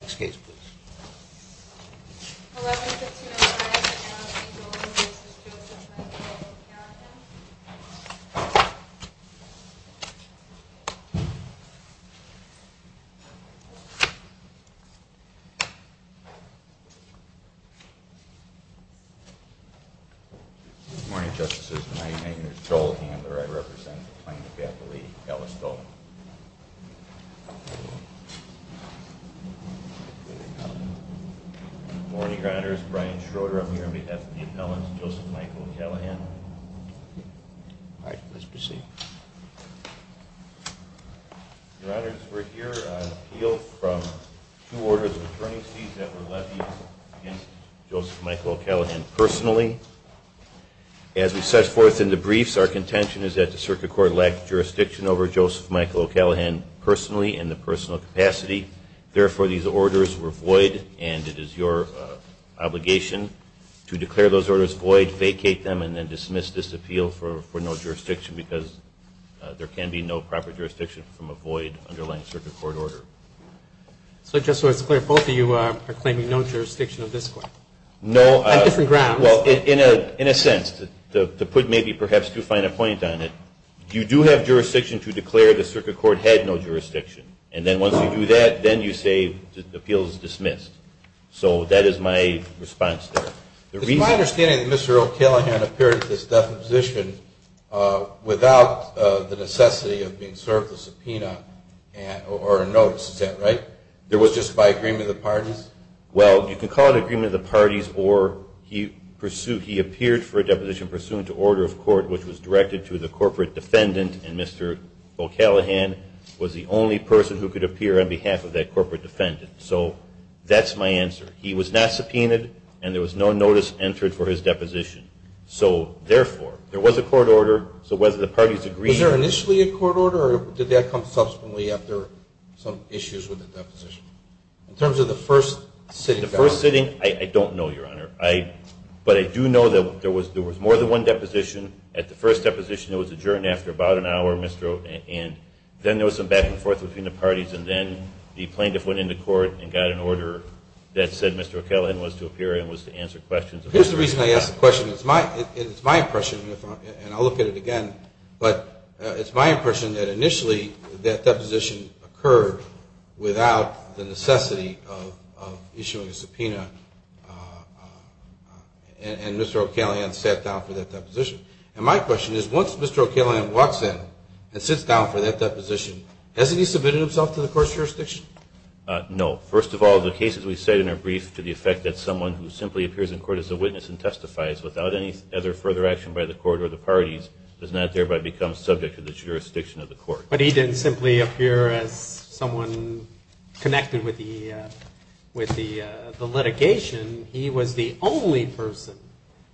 Next case please. 11-15-05 McManus v. Dolan v. Joseph McManus v. O'Callaghan Good morning, Justices. Tonight, McManus v. Dolan and I represent the plaintiff at the lead, Ellis Dolan. Good morning, Your Honor. This is Brian Schroeder. I'm here on behalf of the appellant, Joseph Michael O'Callaghan. All right. Please proceed. Your Honor, we're here on appeal from two orders of attorney's fees that were levied against Joseph Michael O'Callaghan personally. As we set forth in the briefs, our contention is that the circuit court lacked jurisdiction over Joseph Michael O'Callaghan personally in the personal capacity. Therefore, these orders were void, and it is your obligation to declare those orders void, vacate them, and then dismiss this appeal for no jurisdiction because there can be no proper jurisdiction from a void underlying circuit court order. So just so it's clear, both of you are claiming no jurisdiction of this court? No. On different grounds. Well, in a sense, to put maybe perhaps too fine a point on it, you do have jurisdiction to declare the circuit court had no jurisdiction. And then once you do that, then you say the appeal is dismissed. So that is my response there. It's my understanding that Mr. O'Callaghan appeared at this deposition without the necessity of being served a subpoena or a notice. Is that right? It was just by agreement of the parties? Well, you can call it agreement of the parties, or he appeared for a deposition pursuant to order of court, which was directed to the corporate defendant. And Mr. O'Callaghan was the only person who could appear on behalf of that corporate defendant. So that's my answer. He was not subpoenaed, and there was no notice entered for his deposition. So therefore, there was a court order. So whether the parties agreed or not. Was there initially a court order, or did that come subsequently after some issues with the deposition? In terms of the first sitting. The first sitting, I don't know, Your Honor. But I do know that there was more than one deposition. At the first deposition, it was adjourned after about an hour. And then there was some back and forth between the parties. And then the plaintiff went into court and got an order that said Mr. O'Callaghan was to appear and was to answer questions. Here's the reason I ask the question. It's my impression, and I'll look at it again. But it's my impression that initially that deposition occurred without the necessity of issuing a subpoena. And Mr. O'Callaghan sat down for that deposition. And my question is, once Mr. O'Callaghan walks in and sits down for that deposition, hasn't he submitted himself to the court's jurisdiction? No. First of all, the cases we cite in our brief to the effect that someone who simply appears in court as a witness and testifies without any other further action by the court or the parties does not thereby become subject to the jurisdiction of the court. But he didn't simply appear as someone connected with the litigation. He was the only person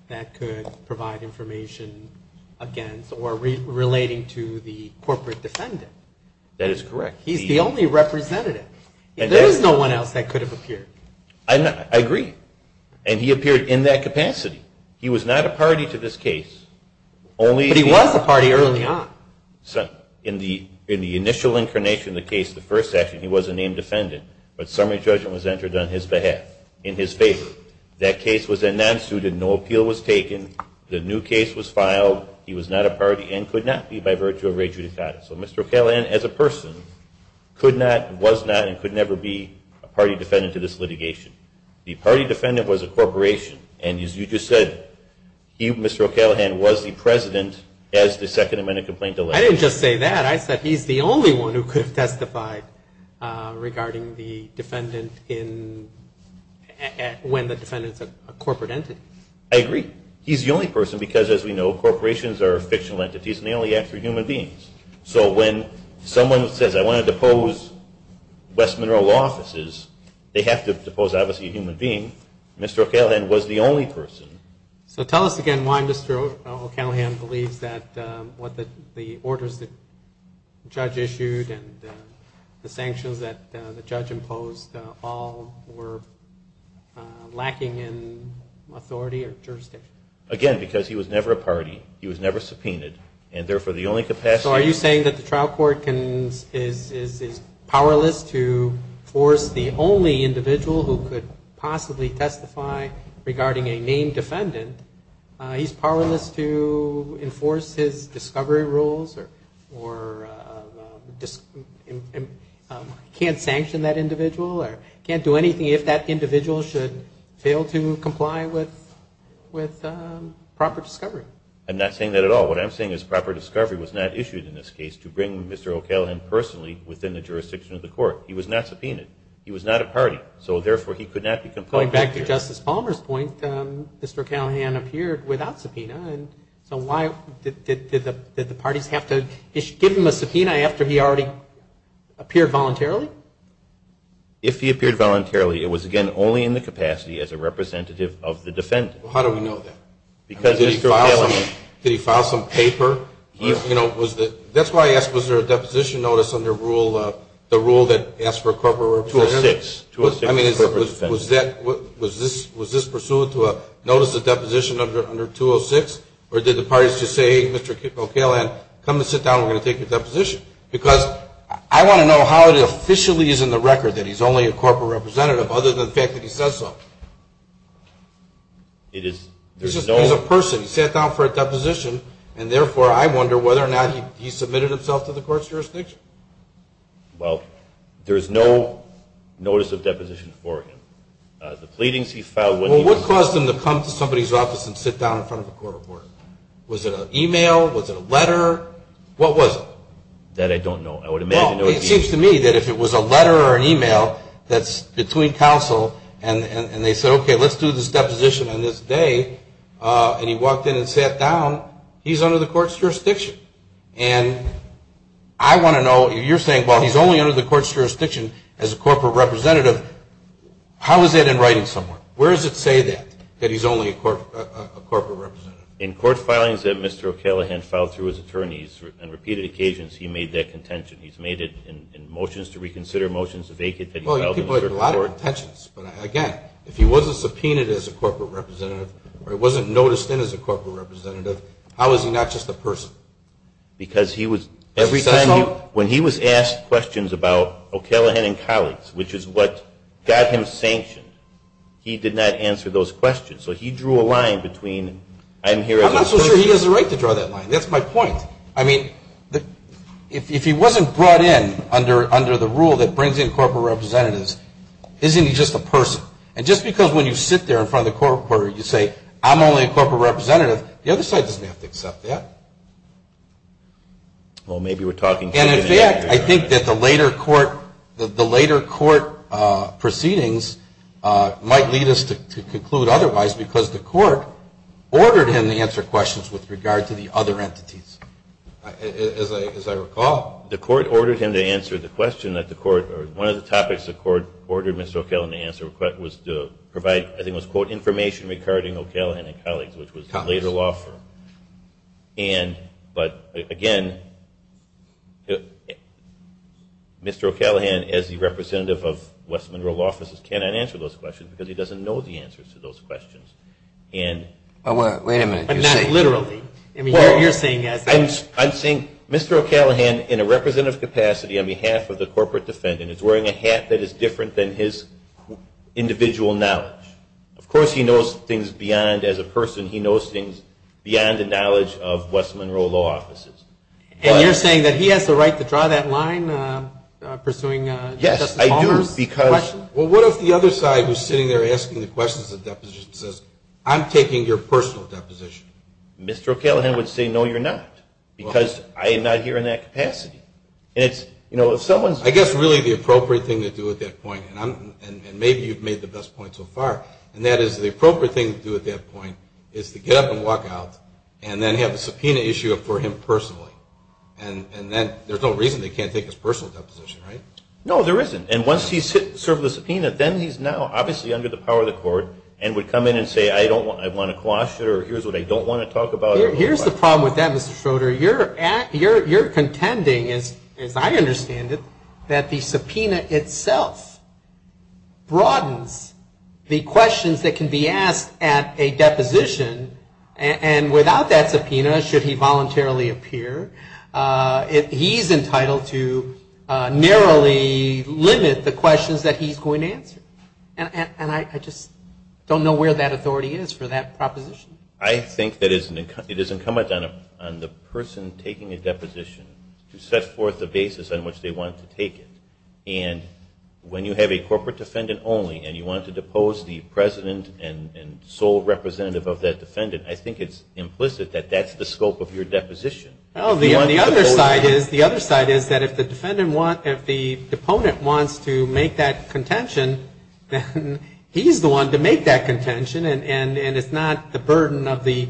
that could provide information against or relating to the corporate defendant. That is correct. He's the only representative. There is no one else that could have appeared. I agree. And he appeared in that capacity. He was not a party to this case. But he was a party early on. In the initial incarnation of the case, the first session, he was a named defendant. But summary judgment was entered on his behalf, in his favor. That case was then non-suited. No appeal was taken. The new case was filed. He was not a party and could not be by virtue of re judicata. So Mr. O'Callaghan as a person could not, was not, and could never be a party defendant to this litigation. The party defendant was a corporation. And as you just said, he, Mr. O'Callaghan, was the president as the Second Amendment complaint alleged. I didn't just say that. I said he's the only one who could have testified regarding the defendant in, when the defendant is a corporate entity. I agree. He's the only person because, as we know, corporations are fictional entities and they only act for human beings. So when someone says, I want to depose West Monroe Law Offices, they have to depose, obviously, a human being. Mr. O'Callaghan was the only person. So tell us again why Mr. O'Callaghan believes that the orders the judge issued and the sanctions that the judge imposed all were lacking in authority or jurisdiction. Again, because he was never a party. He was never subpoenaed. And therefore, the only capacity So are you saying that the trial court is powerless to force the only individual who could possibly testify regarding a named defendant, he's powerless to enforce his discovery rules or can't sanction that individual or can't do anything if that individual should fail to comply with proper discovery? I'm not saying that at all. What I'm saying is proper discovery was not issued in this case to bring Mr. O'Callaghan personally within the jurisdiction of the court. He was not subpoenaed. He was not a party. So therefore, he could not be complied with. Going back to Justice Palmer's point, Mr. O'Callaghan appeared without subpoena. So why did the parties have to give him a subpoena after he already appeared voluntarily? If he appeared voluntarily, it was, again, only in the capacity as a representative of the defendant. How do we know that? Because Mr. O'Callaghan Did he file some paper? That's why I asked, was there a deposition notice under the rule that asked for a corporate representative? 206. Was this pursuant to a notice of deposition under 206? Or did the parties just say, hey, Mr. O'Callaghan, come and sit down. We're going to take your deposition. Because I want to know how it officially is in the record that he's only a corporate representative other than the fact that he says so. There's no He's a person. He sat down for a deposition. And therefore, I wonder whether or not he submitted himself to the court's jurisdiction. Well, there's no notice of deposition for him. The pleadings he filed Well, what caused him to come to somebody's office and sit down in front of a court reporter? Was it an email? Was it a letter? What was it? That I don't know. I would imagine it would be It seems to me that if it was a letter or an email that's between counsel and they said, okay, let's do this deposition on this day, and he walked in and sat down, he's under the court's jurisdiction. And I want to know, you're saying, well, he's only under the court's jurisdiction as a corporate representative. How is that in writing somewhere? Where does it say that, that he's only a corporate representative? In court filings that Mr. O'Callaghan filed through his attorneys, on repeated occasions, he made that contention. He's made it in motions to reconsider, motions to vacate. Well, you could put it in a lot of court intentions. But, again, if he wasn't subpoenaed as a corporate representative or he wasn't noticed in as a corporate representative, how is he not just a person? Because he was, every time he, when he was asked questions about O'Callaghan and colleagues, which is what got him sanctioned, he did not answer those questions. So he drew a line between, I'm here as a person I'm not so sure he has the right to draw that line. That's my point. I mean, if he wasn't brought in under the rule that brings in corporate representatives, isn't he just a person? And just because when you sit there in front of the court reporter and you say, I'm only a corporate representative, the other side doesn't have to accept that. Well, maybe we're talking too much. And, in fact, I think that the later court proceedings might lead us to conclude otherwise because the court ordered him to answer questions with regard to the other entities. As I recall, the court ordered him to answer the question that the court, or one of the topics the court ordered Mr. O'Callaghan to answer was to provide, I think it was quote, information regarding O'Callaghan and colleagues, which was the later law firm. And, but, again, Mr. O'Callaghan, as the representative of West Monroe Law Offices, cannot answer those questions because he doesn't know the answers to those questions. Wait a minute. Not literally. I'm saying Mr. O'Callaghan, in a representative capacity on behalf of the corporate defendant, is wearing a hat that is different than his individual knowledge. Of course he knows things beyond, as a person, he knows things beyond the knowledge of West Monroe Law Offices. And you're saying that he has the right to draw that line pursuing Justice Palmer's question? Yes, I do. Well, what if the other side was sitting there asking the questions of deposition and says, I'm taking your personal deposition? Mr. O'Callaghan would say, no, you're not, because I am not here in that capacity. I guess really the appropriate thing to do at that point, and maybe you've made the best point so far, and that is the appropriate thing to do at that point is to get up and walk out and then have a subpoena issue for him personally. And there's no reason they can't take his personal deposition, right? No, there isn't. And once he's served the subpoena, then he's now obviously under the power of the court and would come in and say, I want to quash it, or here's what I don't want to talk about. Here's the problem with that, Mr. Schroeder, you're contending, as I understand it, that the subpoena itself broadens the questions that can be asked at a deposition, and without that subpoena, should he voluntarily appear, he's entitled to narrowly limit the questions that he's going to answer. And I just don't know where that authority is for that proposition. I think that it is incumbent on the person taking a deposition to set forth the basis on which they want to take it. And when you have a corporate defendant only and you want to depose the president and sole representative of that defendant, I think it's implicit that that's the scope of your deposition. Well, the other side is that if the deponent wants to make that contention, then he's the one to make that contention, and it's not the burden of the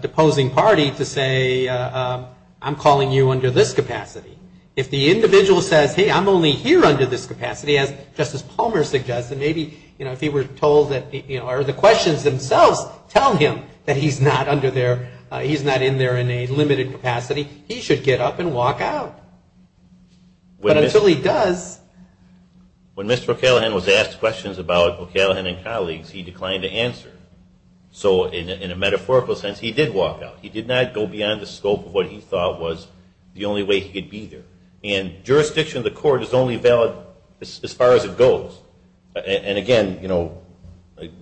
deposing party to say, I'm calling you under this capacity. If the individual says, hey, I'm only here under this capacity, as Justice Palmer suggested, maybe if he were told that the questions themselves tell him that he's not under there, he's not in there in a limited capacity, he should get up and walk out. But until he does... When Mr. O'Callaghan was asked questions about O'Callaghan and colleagues, he declined to answer. So in a metaphorical sense, he did walk out. He did not go beyond the scope of what he thought was the only way he could be there. And jurisdiction of the court is only valid as far as it goes. And, again,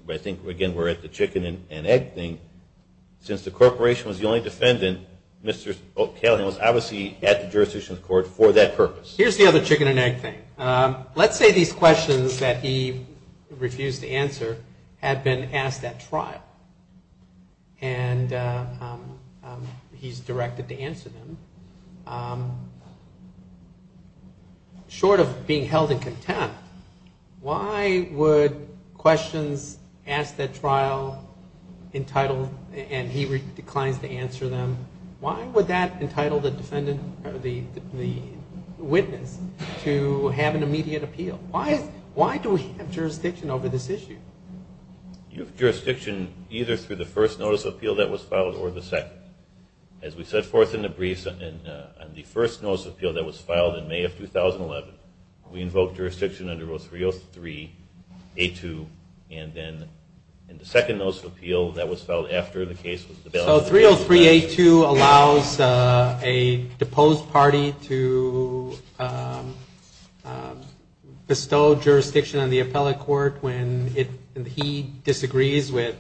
I think, again, we're at the chicken and egg thing. Since the corporation was the only defendant, Mr. O'Callaghan was obviously at the jurisdiction of the court for that purpose. Here's the other chicken and egg thing. Let's say these questions that he refused to answer had been asked at trial, and he's directed to answer them. Short of being held in contempt, why would questions asked at trial entitled, and he declines to answer them, why would that entitle the witness to have an immediate appeal? Why do we have jurisdiction over this issue? You have jurisdiction either through the first notice of appeal that was filed or the second. As we set forth in the briefs, on the first notice of appeal that was filed in May of 2011, we invoked jurisdiction under Rule 303A2, and then in the second notice of appeal that was filed after the case was developed. So 303A2 allows a deposed party to bestow jurisdiction on the appellate court when he disagrees with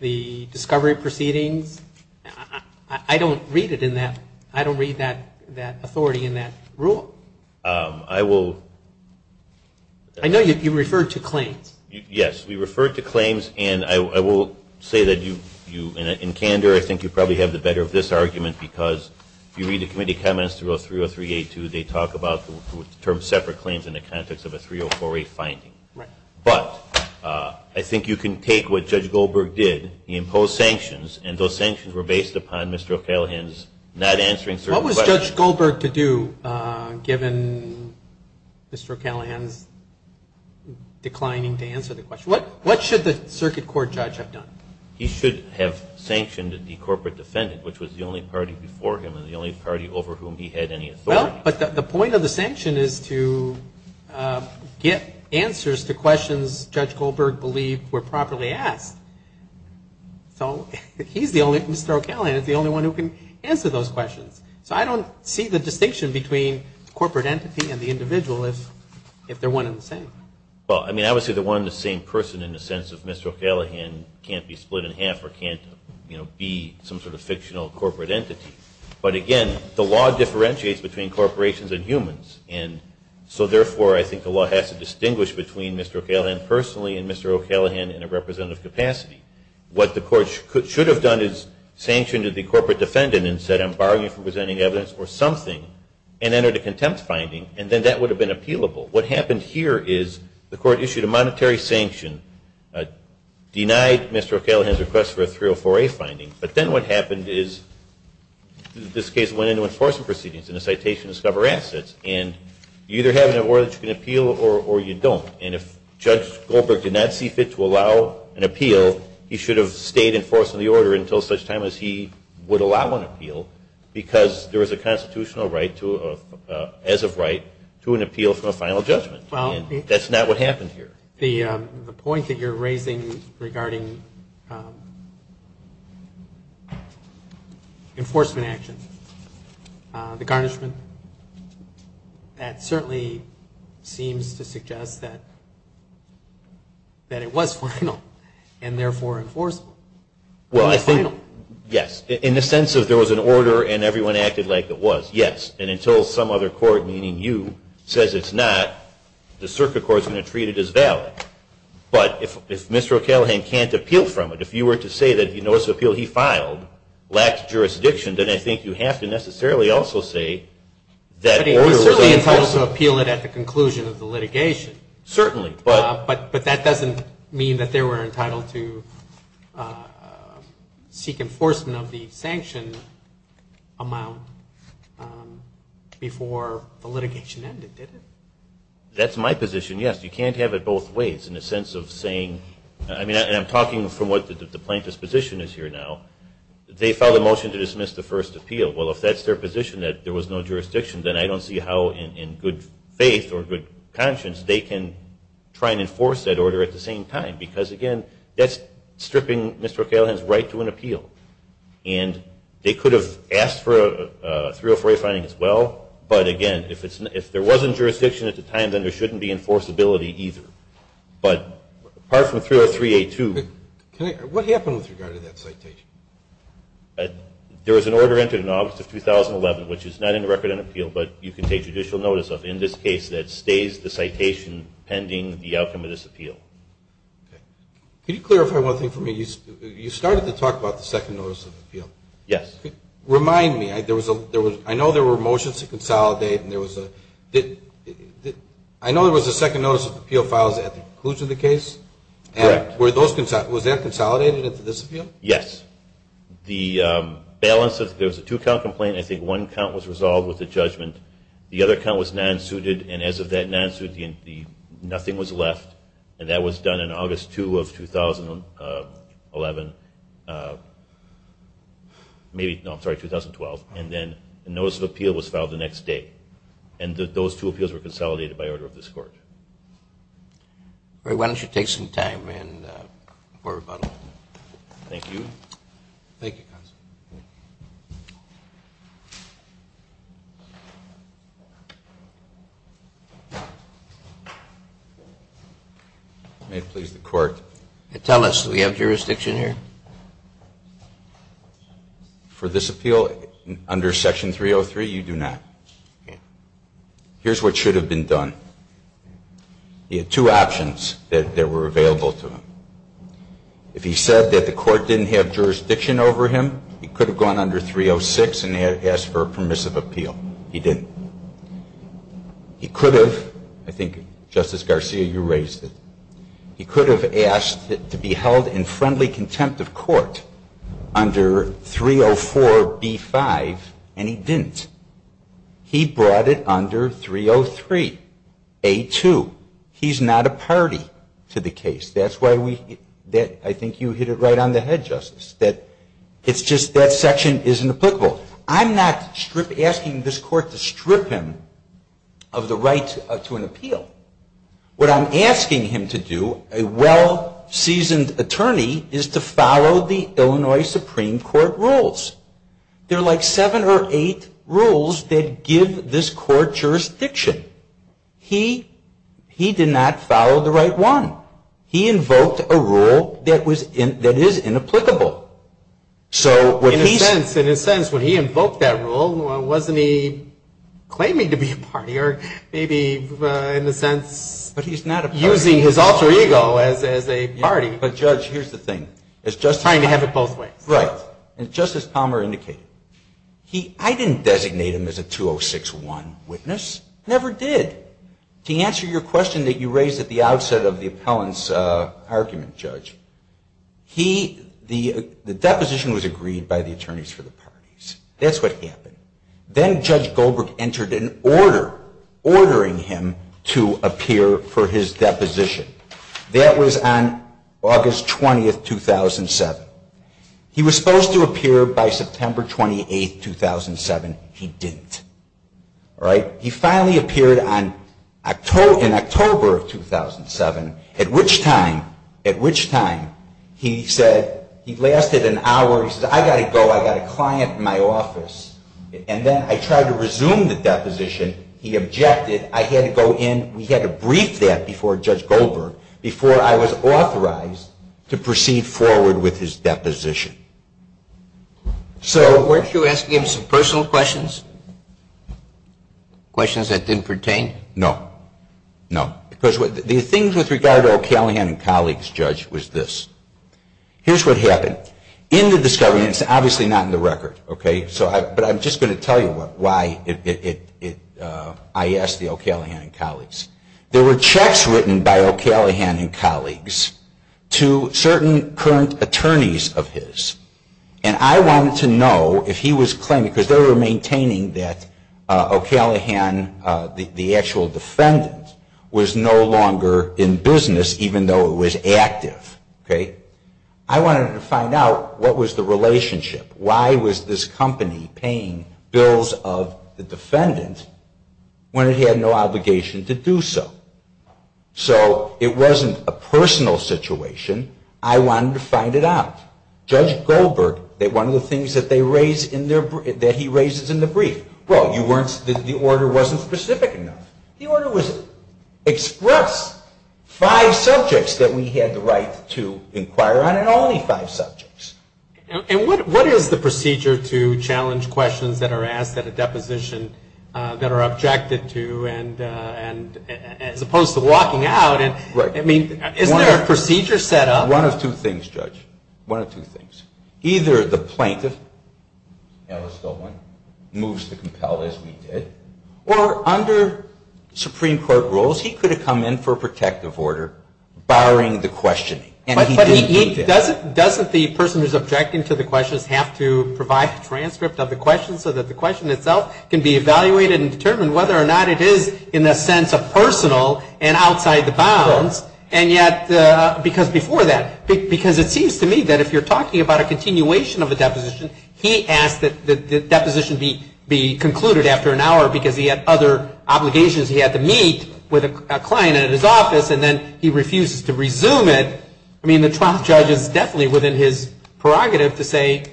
the discovery proceedings. I don't read it in that, I don't read that authority in that rule. I will. I know you referred to claims. Yes, we referred to claims, and I will say that you, in candor, I think you probably have the better of this argument because you read the committee comments through 303A2, they talk about the term separate claims in the context of a 304A finding. Right. But I think you can take what Judge Goldberg did. He imposed sanctions, and those sanctions were based upon Mr. O'Callaghan's not answering certain questions. What was Judge Goldberg to do, given Mr. O'Callaghan's declining to answer the question? What should the circuit court judge have done? He should have sanctioned the corporate defendant, which was the only party before him and the only party over whom he had any authority. Well, but the point of the sanction is to get answers to questions Judge Goldberg believed were properly asked. So Mr. O'Callaghan is the only one who can answer those questions. So I don't see the distinction between corporate entity and the individual if they're one and the same. Well, I mean, I would say they're one and the same person in the sense that Mr. O'Callaghan can't be split in half or can't be some sort of fictional corporate entity. But, again, the law differentiates between corporations and humans. And so, therefore, I think the law has to distinguish between Mr. O'Callaghan personally and Mr. O'Callaghan in a representative capacity. What the court should have done is sanctioned the corporate defendant and said, I'm barring you from presenting evidence or something, and entered a contempt finding, and then that would have been appealable. What happened here is the court issued a monetary sanction, denied Mr. O'Callaghan's request for a 304A finding, but then what happened is this case went into enforcement proceedings in a citation to discover assets. And you either have an order that you can appeal or you don't. And if Judge Goldberg did not see fit to allow an appeal, he should have stayed in force of the order until such time as he would allow an appeal because there was a constitutional right to, as of right, to an appeal for a final judgment. And that's not what happened here. The point that you're raising regarding enforcement actions, the garnishment, that certainly seems to suggest that it was final and, therefore, enforceable. Well, I think, yes. In the sense that there was an order and everyone acted like it was, yes. And until some other court, meaning you, says it's not, the circuit court is going to treat it as valid. But if Mr. O'Callaghan can't appeal from it, if you were to say that the notice of appeal he filed lacked jurisdiction, then I think you have to necessarily also say that the order was unenforceable. But he was certainly entitled to appeal it at the conclusion of the litigation. Certainly. But that doesn't mean that they were entitled to seek enforcement of the sanction amount before the litigation ended, did it? That's my position, yes. You can't have it both ways in the sense of saying, I mean, and I'm talking from what the plaintiff's position is here now. They filed a motion to dismiss the first appeal. Well, if that's their position that there was no jurisdiction, then I don't see how in good faith or good conscience they can try and enforce that order at the same time. Because, again, that's stripping Mr. O'Callaghan's right to an appeal. And they could have asked for a 304A finding as well. But, again, if there wasn't jurisdiction at the time, then there shouldn't be enforceability either. But apart from 303A2. What happened with regard to that citation? There was an order entered in August of 2011, which is not in the record on appeal, but you can take judicial notice of in this case that stays the citation pending the outcome of this appeal. Can you clarify one thing for me? You started to talk about the second notice of appeal. Yes. Remind me. I know there were motions to consolidate and there was a ‑‑ I know there was a second notice of appeal filed at the conclusion of the case. Correct. Was that consolidated into this appeal? Yes. The balance of ‑‑ there was a two‑count complaint. I think one count was resolved with a judgment. The other count was non‑suited. And as of that non‑suit, nothing was left. And that was done in August 2 of 2011. Maybe, no, I'm sorry, 2012. And then a notice of appeal was filed the next day. And those two appeals were consolidated by order of this court. Why don't you take some time for rebuttal? Thank you. Thank you, counsel. May it please the court. Tell us, do we have jurisdiction here? For this appeal, under Section 303, you do not. Okay. Here's what should have been done. He had two options that were available to him. If he said that the court didn't have jurisdiction over him, he could have gone under 306 and asked for a permissive appeal. He didn't. He could have, I think Justice Garcia, you raised it, he could have asked it to be held in friendly contempt of court under 304B5 and he didn't. He brought it under 303A2. He's not a party to the case. That's why we, I think you hit it right on the head, Justice, that it's just that section isn't applicable. I'm not asking this court to strip him of the right to an appeal. What I'm asking him to do, a well-seasoned attorney, is to follow the Illinois Supreme Court rules. There are like seven or eight rules that give this court jurisdiction. He did not follow the right one. He invoked a rule that is inapplicable. In a sense, when he invoked that rule, wasn't he claiming to be a party or maybe in a sense using his alter ego as a party? But, Judge, here's the thing. Trying to have it both ways. Right. As Justice Palmer indicated, I didn't designate him as a 206-1 witness. Never did. To answer your question that you raised at the outset of the appellant's argument, Judge, the deposition was agreed by the attorneys for the parties. That's what happened. Then Judge Goldberg entered an order ordering him to appear for his deposition. That was on August 20, 2007. He was supposed to appear by September 28, 2007. He didn't. He finally appeared in October of 2007, at which time he said, he lasted an hour, he said, I've got to go. I've got a client in my office. And then I tried to resume the deposition. He objected. I had to go in. And we had to brief that before Judge Goldberg, before I was authorized to proceed forward with his deposition. So weren't you asking him some personal questions? Questions that didn't pertain? No. No. Because the thing with regard to O'Callaghan and colleagues, Judge, was this. Here's what happened. In the discovery, and it's obviously not in the record, okay, but I'm just going to tell you why I asked the O'Callaghan and colleagues. There were checks written by O'Callaghan and colleagues to certain current attorneys of his. And I wanted to know if he was claiming, because they were maintaining that O'Callaghan, the actual defendant, was no longer in business, even though it was active. I wanted to find out what was the relationship. Why was this company paying bills of the defendant when it had no obligation to do so? So it wasn't a personal situation. I wanted to find it out. Judge Goldberg, one of the things that he raises in the brief, well, the order wasn't specific enough. The order was express, five subjects that we had the right to inquire on and only five subjects. And what is the procedure to challenge questions that are asked at a deposition that are objected to as opposed to walking out? I mean, isn't there a procedure set up? One of two things, Judge, one of two things. Either the plaintiff, Alice Dolman, moves to compel, as we did, or under Supreme Court rules he could have come in for a protective order barring the questioning. But doesn't the person who's objecting to the questions have to provide a transcript of the questions so that the question itself can be evaluated and determined whether or not it is in the sense of personal and outside the bounds? And yet, because before that, because it seems to me that if you're talking about a continuation of a deposition, he asked that the deposition be concluded after an hour because he had other obligations. He had to meet with a client at his office, and then he refuses to resume it. I mean, the trial judge is definitely within his prerogative to say,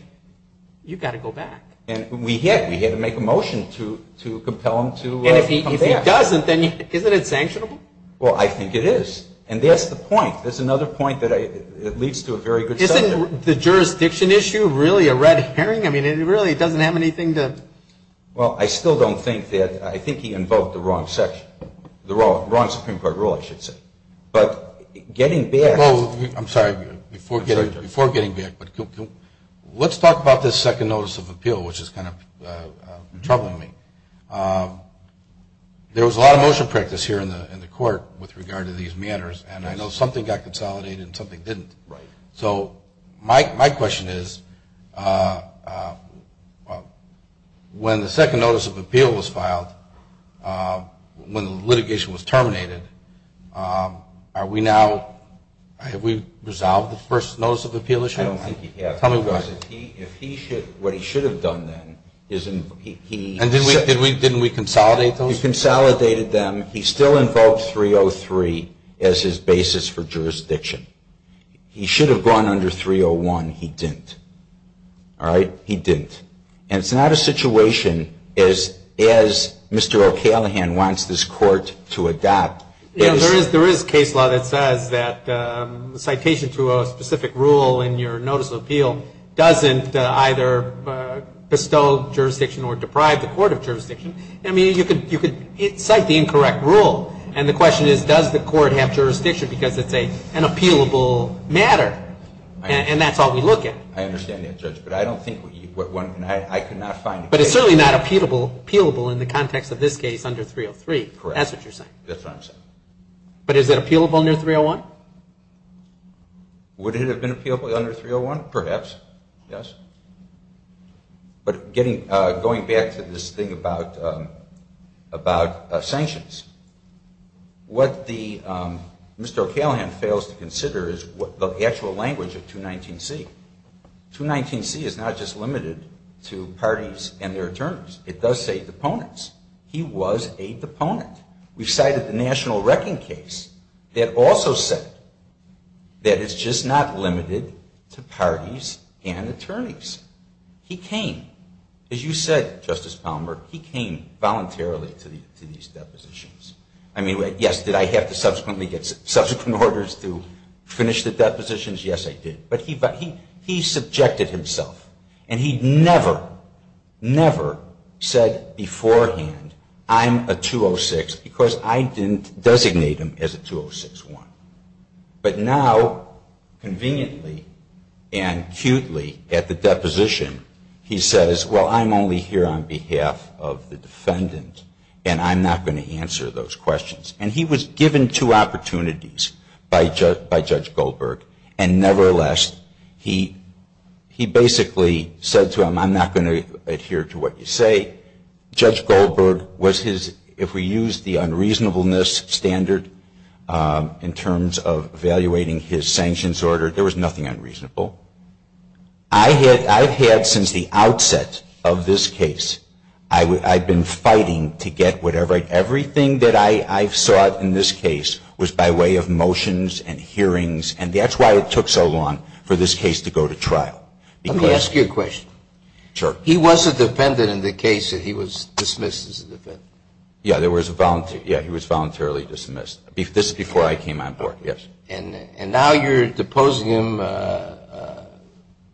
you've got to go back. And we had to make a motion to compel him to come back. And if he doesn't, then isn't it sanctionable? Well, I think it is. And that's the point. That's another point that leads to a very good subject. Isn't the jurisdiction issue really a red herring? I mean, it really doesn't have anything to – Well, I still don't think that – I think he invoked the wrong section, the wrong Supreme Court rule, I should say. But getting back – I'm sorry. Before getting back, let's talk about this second notice of appeal, which is kind of troubling me. There was a lot of motion practice here in the court with regard to these matters, and I know something got consolidated and something didn't. Right. So my question is, when the second notice of appeal was filed, when the litigation was terminated, are we now – have we resolved the first notice of appeal issue? I don't think you have. Tell me about it. Because what he should have done then is – And didn't we consolidate those? You consolidated them. He still invoked 303 as his basis for jurisdiction. He should have gone under 301. He didn't. All right? He didn't. And it's not a situation as Mr. O'Callaghan wants this court to adopt. There is case law that says that citation to a specific rule in your notice of appeal doesn't either bestow jurisdiction or deprive the court of jurisdiction. I mean, you could cite the incorrect rule. And the question is, does the court have jurisdiction because it's an appealable matter? And that's all we look at. I understand that, Judge. But I don't think – But it's certainly not appealable in the context of this case under 303. Correct. That's what you're saying. That's what I'm saying. But is it appealable under 301? Would it have been appealable under 301? Perhaps, yes. But going back to this thing about sanctions, what Mr. O'Callaghan fails to consider is the actual language of 219C. 219C is not just limited to parties and their attorneys. It does say deponents. He was a deponent. We cited the national wrecking case that also said that it's just not limited to parties and attorneys. He came. As you said, Justice Palmer, he came voluntarily to these depositions. I mean, yes, did I have to subsequently get subsequent orders to finish the depositions? Yes, I did. But he subjected himself. And he never, never said beforehand, I'm a 206 because I didn't designate him as a 206-1. But now, conveniently and acutely at the deposition, he says, well, I'm only here on behalf of the defendant and I'm not going to answer those questions. And he was given two opportunities by Judge Goldberg. And nevertheless, he basically said to him, I'm not going to adhere to what you say. Judge Goldberg was his, if we use the unreasonableness standard in terms of evaluating his sanctions order, there was nothing unreasonable. I've had since the outset of this case, I've been fighting to get whatever I can, I've been fighting to get to this point. Everything that I've sought in this case was by way of motions and hearings. And that's why it took so long for this case to go to trial. Let me ask you a question. Sure. He was a defendant in the case that he was dismissed as a defendant. Yes. He was voluntarily dismissed. This was before I came on board, yes. And now you're deposing him,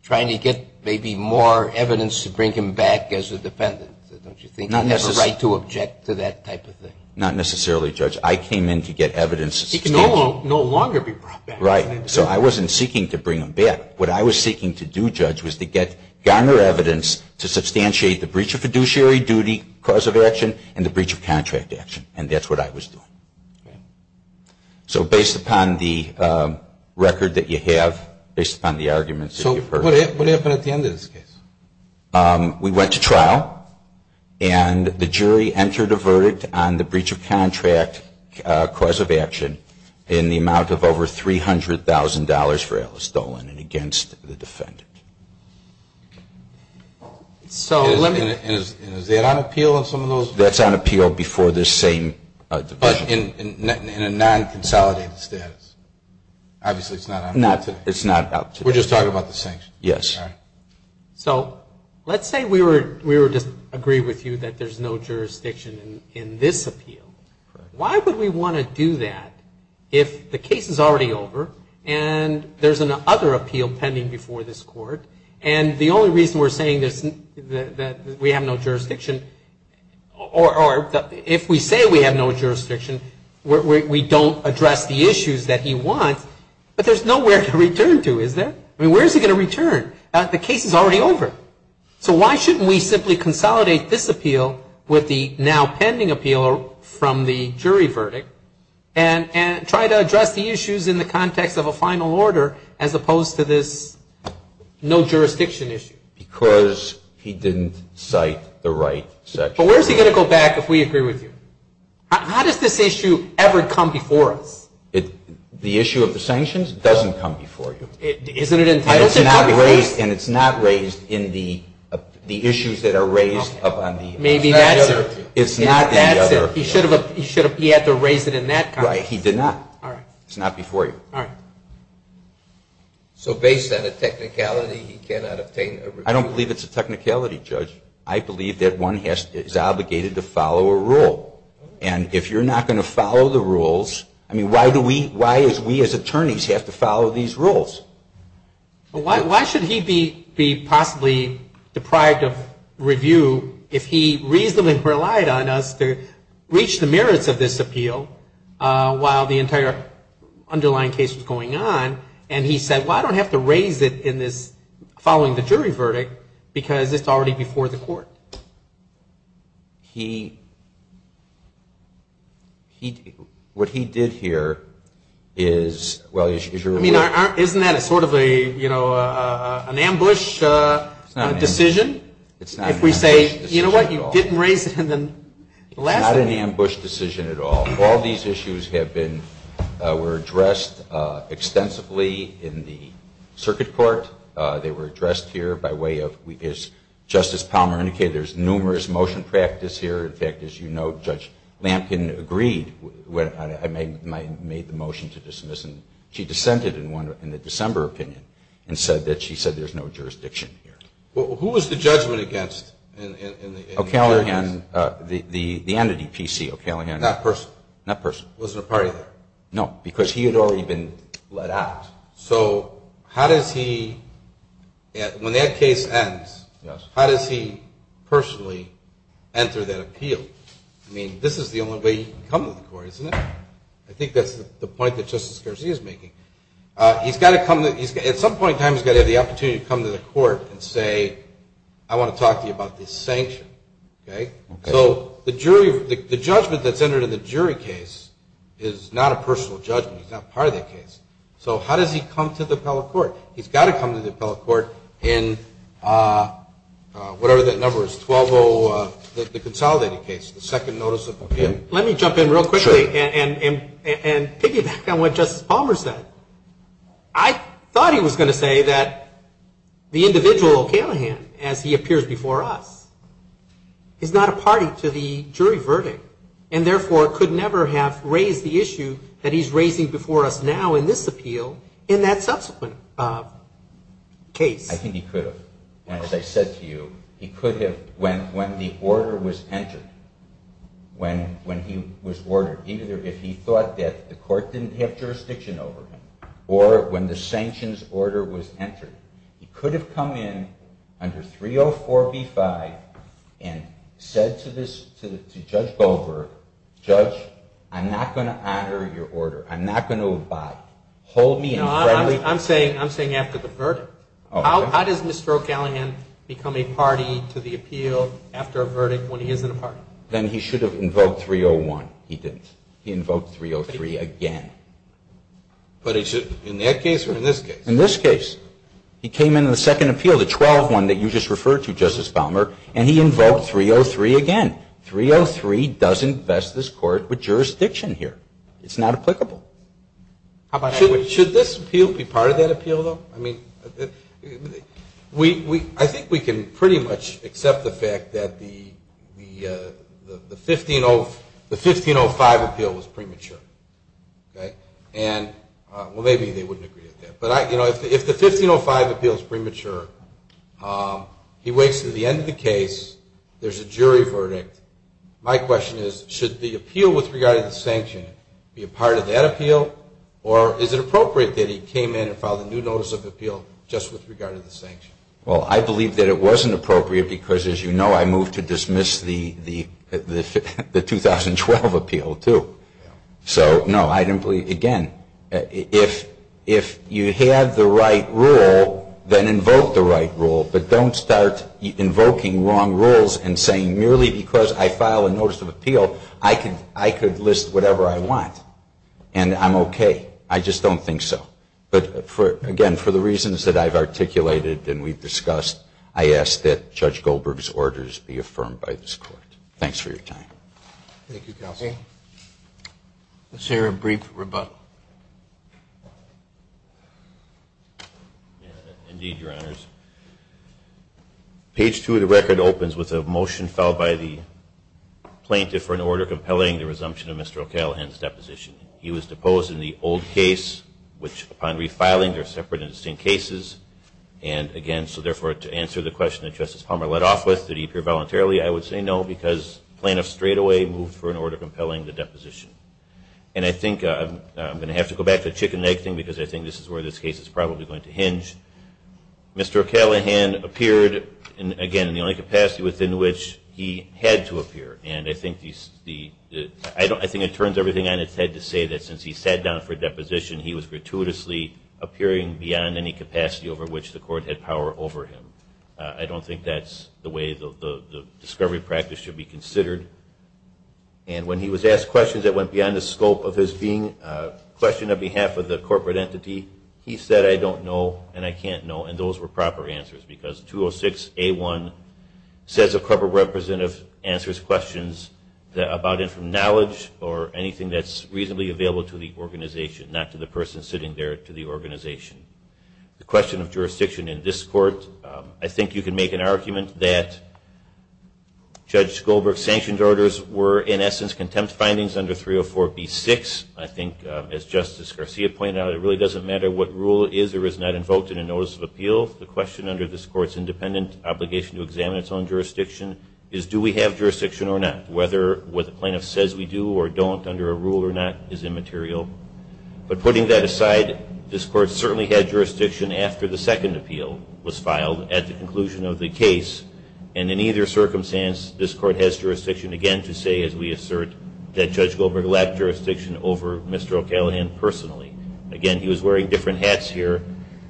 trying to get maybe more evidence to bring him back as a defendant. Don't you think you have a right to object to that type of thing? Not necessarily, Judge. I came in to get evidence. He can no longer be brought back. Right. So I wasn't seeking to bring him back. What I was seeking to do, Judge, was to get garner evidence to substantiate the breach of fiduciary duty cause of action and the breach of contract action. And that's what I was doing. Okay. So based upon the record that you have, based upon the arguments that you've heard. So what happened at the end of this case? We went to trial. And the jury entered a verdict on the breach of contract cause of action in the amount of over $300,000 for Alice Dolan and against the defendant. So let me. And is that on appeal on some of those? That's on appeal before this same division. But in a non-consolidated status? Obviously it's not on appeal today. It's not out today. We're just talking about the sanctions. Yes. So let's say we were to agree with you that there's no jurisdiction in this appeal. Why would we want to do that if the case is already over and there's another appeal pending before this court? And the only reason we're saying that we have no jurisdiction or if we say we have no jurisdiction, we don't address the issues that he wants. But there's nowhere to return to, is there? I mean, where is he going to return? The case is already over. So why shouldn't we simply consolidate this appeal with the now pending appeal from the jury verdict and try to address the issues in the context of a final order as opposed to this no jurisdiction issue? Because he didn't cite the right section. But where is he going to go back if we agree with you? How does this issue ever come before us? The issue of the sanctions doesn't come before you. Isn't it entitled to come before you? And it's not raised in the issues that are raised up on the other appeal. Maybe that's it. It's not in the other appeal. That's it. He had to raise it in that context. Right. He did not. All right. It's not before you. All right. So based on a technicality, he cannot obtain a review? I don't believe it's a technicality, Judge. I believe that one is obligated to follow a rule. And if you're not going to follow the rules, I mean, why do we as attorneys have to follow these rules? Why should he be possibly deprived of review if he reasonably relied on us to reach the merits of this appeal while the entire underlying case was going on? And he said, well, I don't have to raise it in this following the jury verdict because it's already before the court. What he did here is, well, as you're aware. I mean, isn't that sort of an ambush decision? It's not an ambush decision at all. If we say, you know what, you didn't raise it in the last one. It's not an ambush decision at all. All these issues were addressed extensively in the circuit court. They were addressed here by way of, as Justice Palmer indicated, there's numerous motion practice here. In fact, as you know, Judge Lampkin agreed when I made the motion to dismiss. She dissented in the December opinion and said that she said there's no jurisdiction here. Who was the judgment against? O'Callaghan, the entity, PC O'Callaghan. That person? That person. Wasn't a party there? No, because he had already been let out. So how does he, when that case ends, how does he personally enter that appeal? I mean, this is the only way he can come to the court, isn't it? I think that's the point that Justice Garcia is making. At some point in time he's got to have the opportunity to come to the court and say, I want to talk to you about this sanction. So the judgment that's entered in the jury case is not a personal judgment. It's not part of the case. So how does he come to the appellate court? He's got to come to the appellate court in whatever that number is, the consolidated case, the second notice of appeal. Let me jump in real quickly and piggyback on what Justice Palmer said. I thought he was going to say that the individual O'Callaghan, as he appears before us, is not a party to the jury verdict and therefore could never have raised the issue that he's raising before us now in this appeal in that subsequent case. I think he could have. As I said to you, he could have when the order was entered, when he was ordered, either if he thought that the court didn't have jurisdiction over him or when the sanctions order was entered, he could have come in under 304B-5 and said to Judge Goldberg, Judge, I'm not going to honor your order. I'm not going to abide. Hold me in front of you. No, I'm saying after the verdict. How does Mr. O'Callaghan become a party to the appeal after a verdict when he isn't a party? Then he should have invoked 301. He didn't. He invoked 303 again. But in that case or in this case? In this case. He came into the second appeal, the 12-1 that you just referred to, Justice Palmer, and he invoked 303 again. 303 doesn't vest this court with jurisdiction here. It's not applicable. Should this appeal be part of that appeal, though? I think we can pretty much accept the fact that the 1505 appeal was premature. Well, maybe they wouldn't agree with that. But if the 1505 appeal is premature, he waits until the end of the case, there's a jury verdict. My question is, should the appeal with regard to the sanction be a part of that appeal? Or is it appropriate that he came in and filed a new notice of appeal just with regard to the sanction? Well, I believe that it wasn't appropriate because, as you know, I moved to dismiss the 2012 appeal, too. So, no, I didn't believe it. Again, if you have the right rule, then invoke the right rule. But don't start invoking wrong rules and saying, merely because I file a notice of appeal, I could list whatever I want. And I'm okay. I just don't think so. But, again, for the reasons that I've articulated and we've discussed, I ask that Judge Goldberg's orders be affirmed by this Court. Thanks for your time. Thank you, Counsel. Let's hear a brief rebuttal. Indeed, Your Honors. Page 2 of the record opens with a motion filed by the plaintiff for an order compelling the resumption of Mr. O'Callaghan's deposition. He was deposed in the old case, which, upon refiling, they're separate and distinct cases. And, again, so, therefore, to answer the question that Justice Palmer led off with, did he appear voluntarily, I would say no, because plaintiffs straightaway moved for an order compelling the deposition. And I think I'm going to have to go back to the chicken and egg thing, because I think this is where this case is probably going to hinge. Mr. O'Callaghan appeared, again, in the only capacity within which he had to appear. And I think it turns everything on its head to say that, since he sat down for deposition, he was gratuitously appearing beyond any capacity over which the Court had power over him. I don't think that's the way the discovery practice should be considered. And when he was asked questions that went beyond the scope of his being a question on behalf of the corporate entity, he said, I don't know and I can't know. And those were proper answers, because 206A1 says a corporate representative answers questions about informed knowledge or anything that's reasonably available to the organization, not to the person sitting there to the organization. The question of jurisdiction in this Court, I think you can make an argument that Judge Goldberg's sanctioned orders were, in essence, contempt findings under 304B6. I think, as Justice Garcia pointed out, it really doesn't matter what rule is or is not invoked in a notice of appeal. The question under this Court's independent obligation to examine its own jurisdiction is, do we have jurisdiction or not? Whether what the plaintiff says we do or don't under a rule or not is immaterial. But putting that aside, this Court certainly had jurisdiction after the second appeal was filed at the conclusion of the case. And in either circumstance, this Court has jurisdiction, again, to say, as we assert, that Judge Goldberg lacked jurisdiction over Mr. O'Callaghan personally. Again, he was wearing different hats here,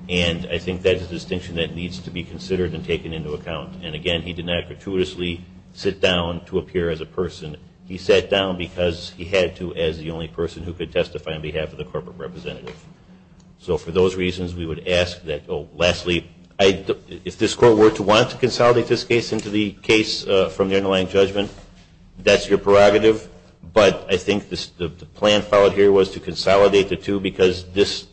and I think that's a distinction that needs to be considered and taken into account. And, again, he did not gratuitously sit down to appear as a person. He sat down because he had to as the only person who could testify on his behalf. So for those reasons, we would ask that, oh, lastly, if this Court were to want to consolidate this case into the case from the underlying judgment, that's your prerogative. But I think the plan filed here was to consolidate the two because this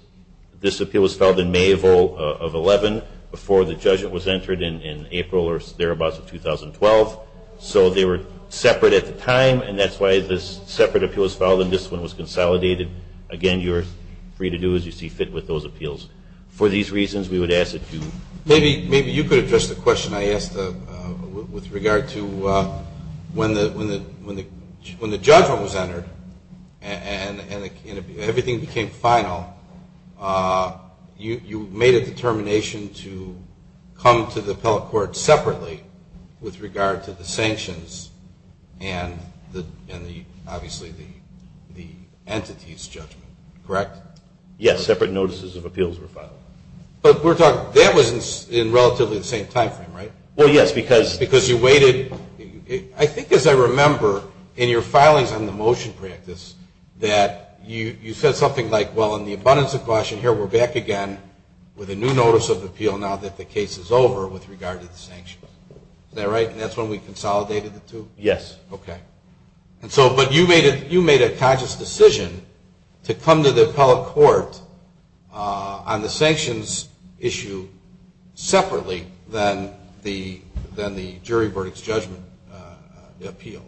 appeal was filed in May of 2011 before the judgment was entered in April or thereabouts of 2012. So they were separate at the time, and that's why this separate appeal was filed and this one was consolidated. Again, you're free to do as you see fit with those appeals. For these reasons, we would ask that you. Maybe you could address the question I asked with regard to when the judgment was entered and everything became final, you made a determination to come to the appellate court separately with regard to the sanctions and obviously the entity's judgment. Correct? Yes. Separate notices of appeals were filed. But that was in relatively the same time frame, right? Well, yes, because. Because you waited. I think as I remember in your filings on the motion practice that you said something like, well, in the abundance of caution here, we're back again with a new notice of appeal now that the case is over with regard to the sanctions. Is that right? And that's when we consolidated the two? Yes. Okay. But you made a conscious decision to come to the appellate court on the sanctions issue separately than the jury verdict's judgment appeal.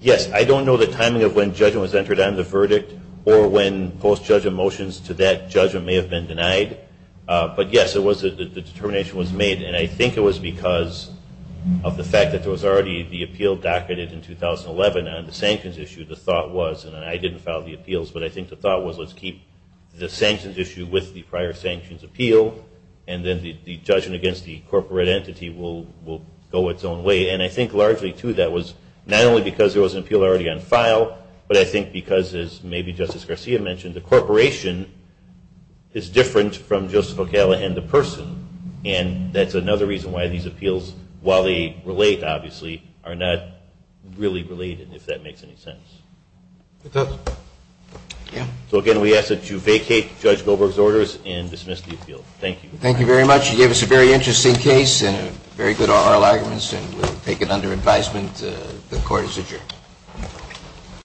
Yes. I don't know the timing of when judgment was entered on the verdict or when post-judgment motions to that judgment may have been denied. But, yes, the determination was made, and I think it was because of the fact that there was already the appeal docketed in 2011 on the sanctions issue. The thought was, and I didn't file the appeals, but I think the thought was let's keep the sanctions issue with the prior sanctions appeal and then the judgment against the corporate entity will go its own way. And I think largely, too, that was not only because there was an appeal already on file, but I think because, as maybe Justice Garcia mentioned, the corporation is different from Justice O'Callaghan, the person. And that's another reason why these appeals, while they relate, obviously, are not really related, if that makes any sense. It does. Yeah. So, again, we ask that you vacate Judge Goldberg's orders and dismiss the appeal. Thank you. Thank you very much. You gave us a very interesting case and very good oral arguments, and we'll take it under advisement. The court is adjourned.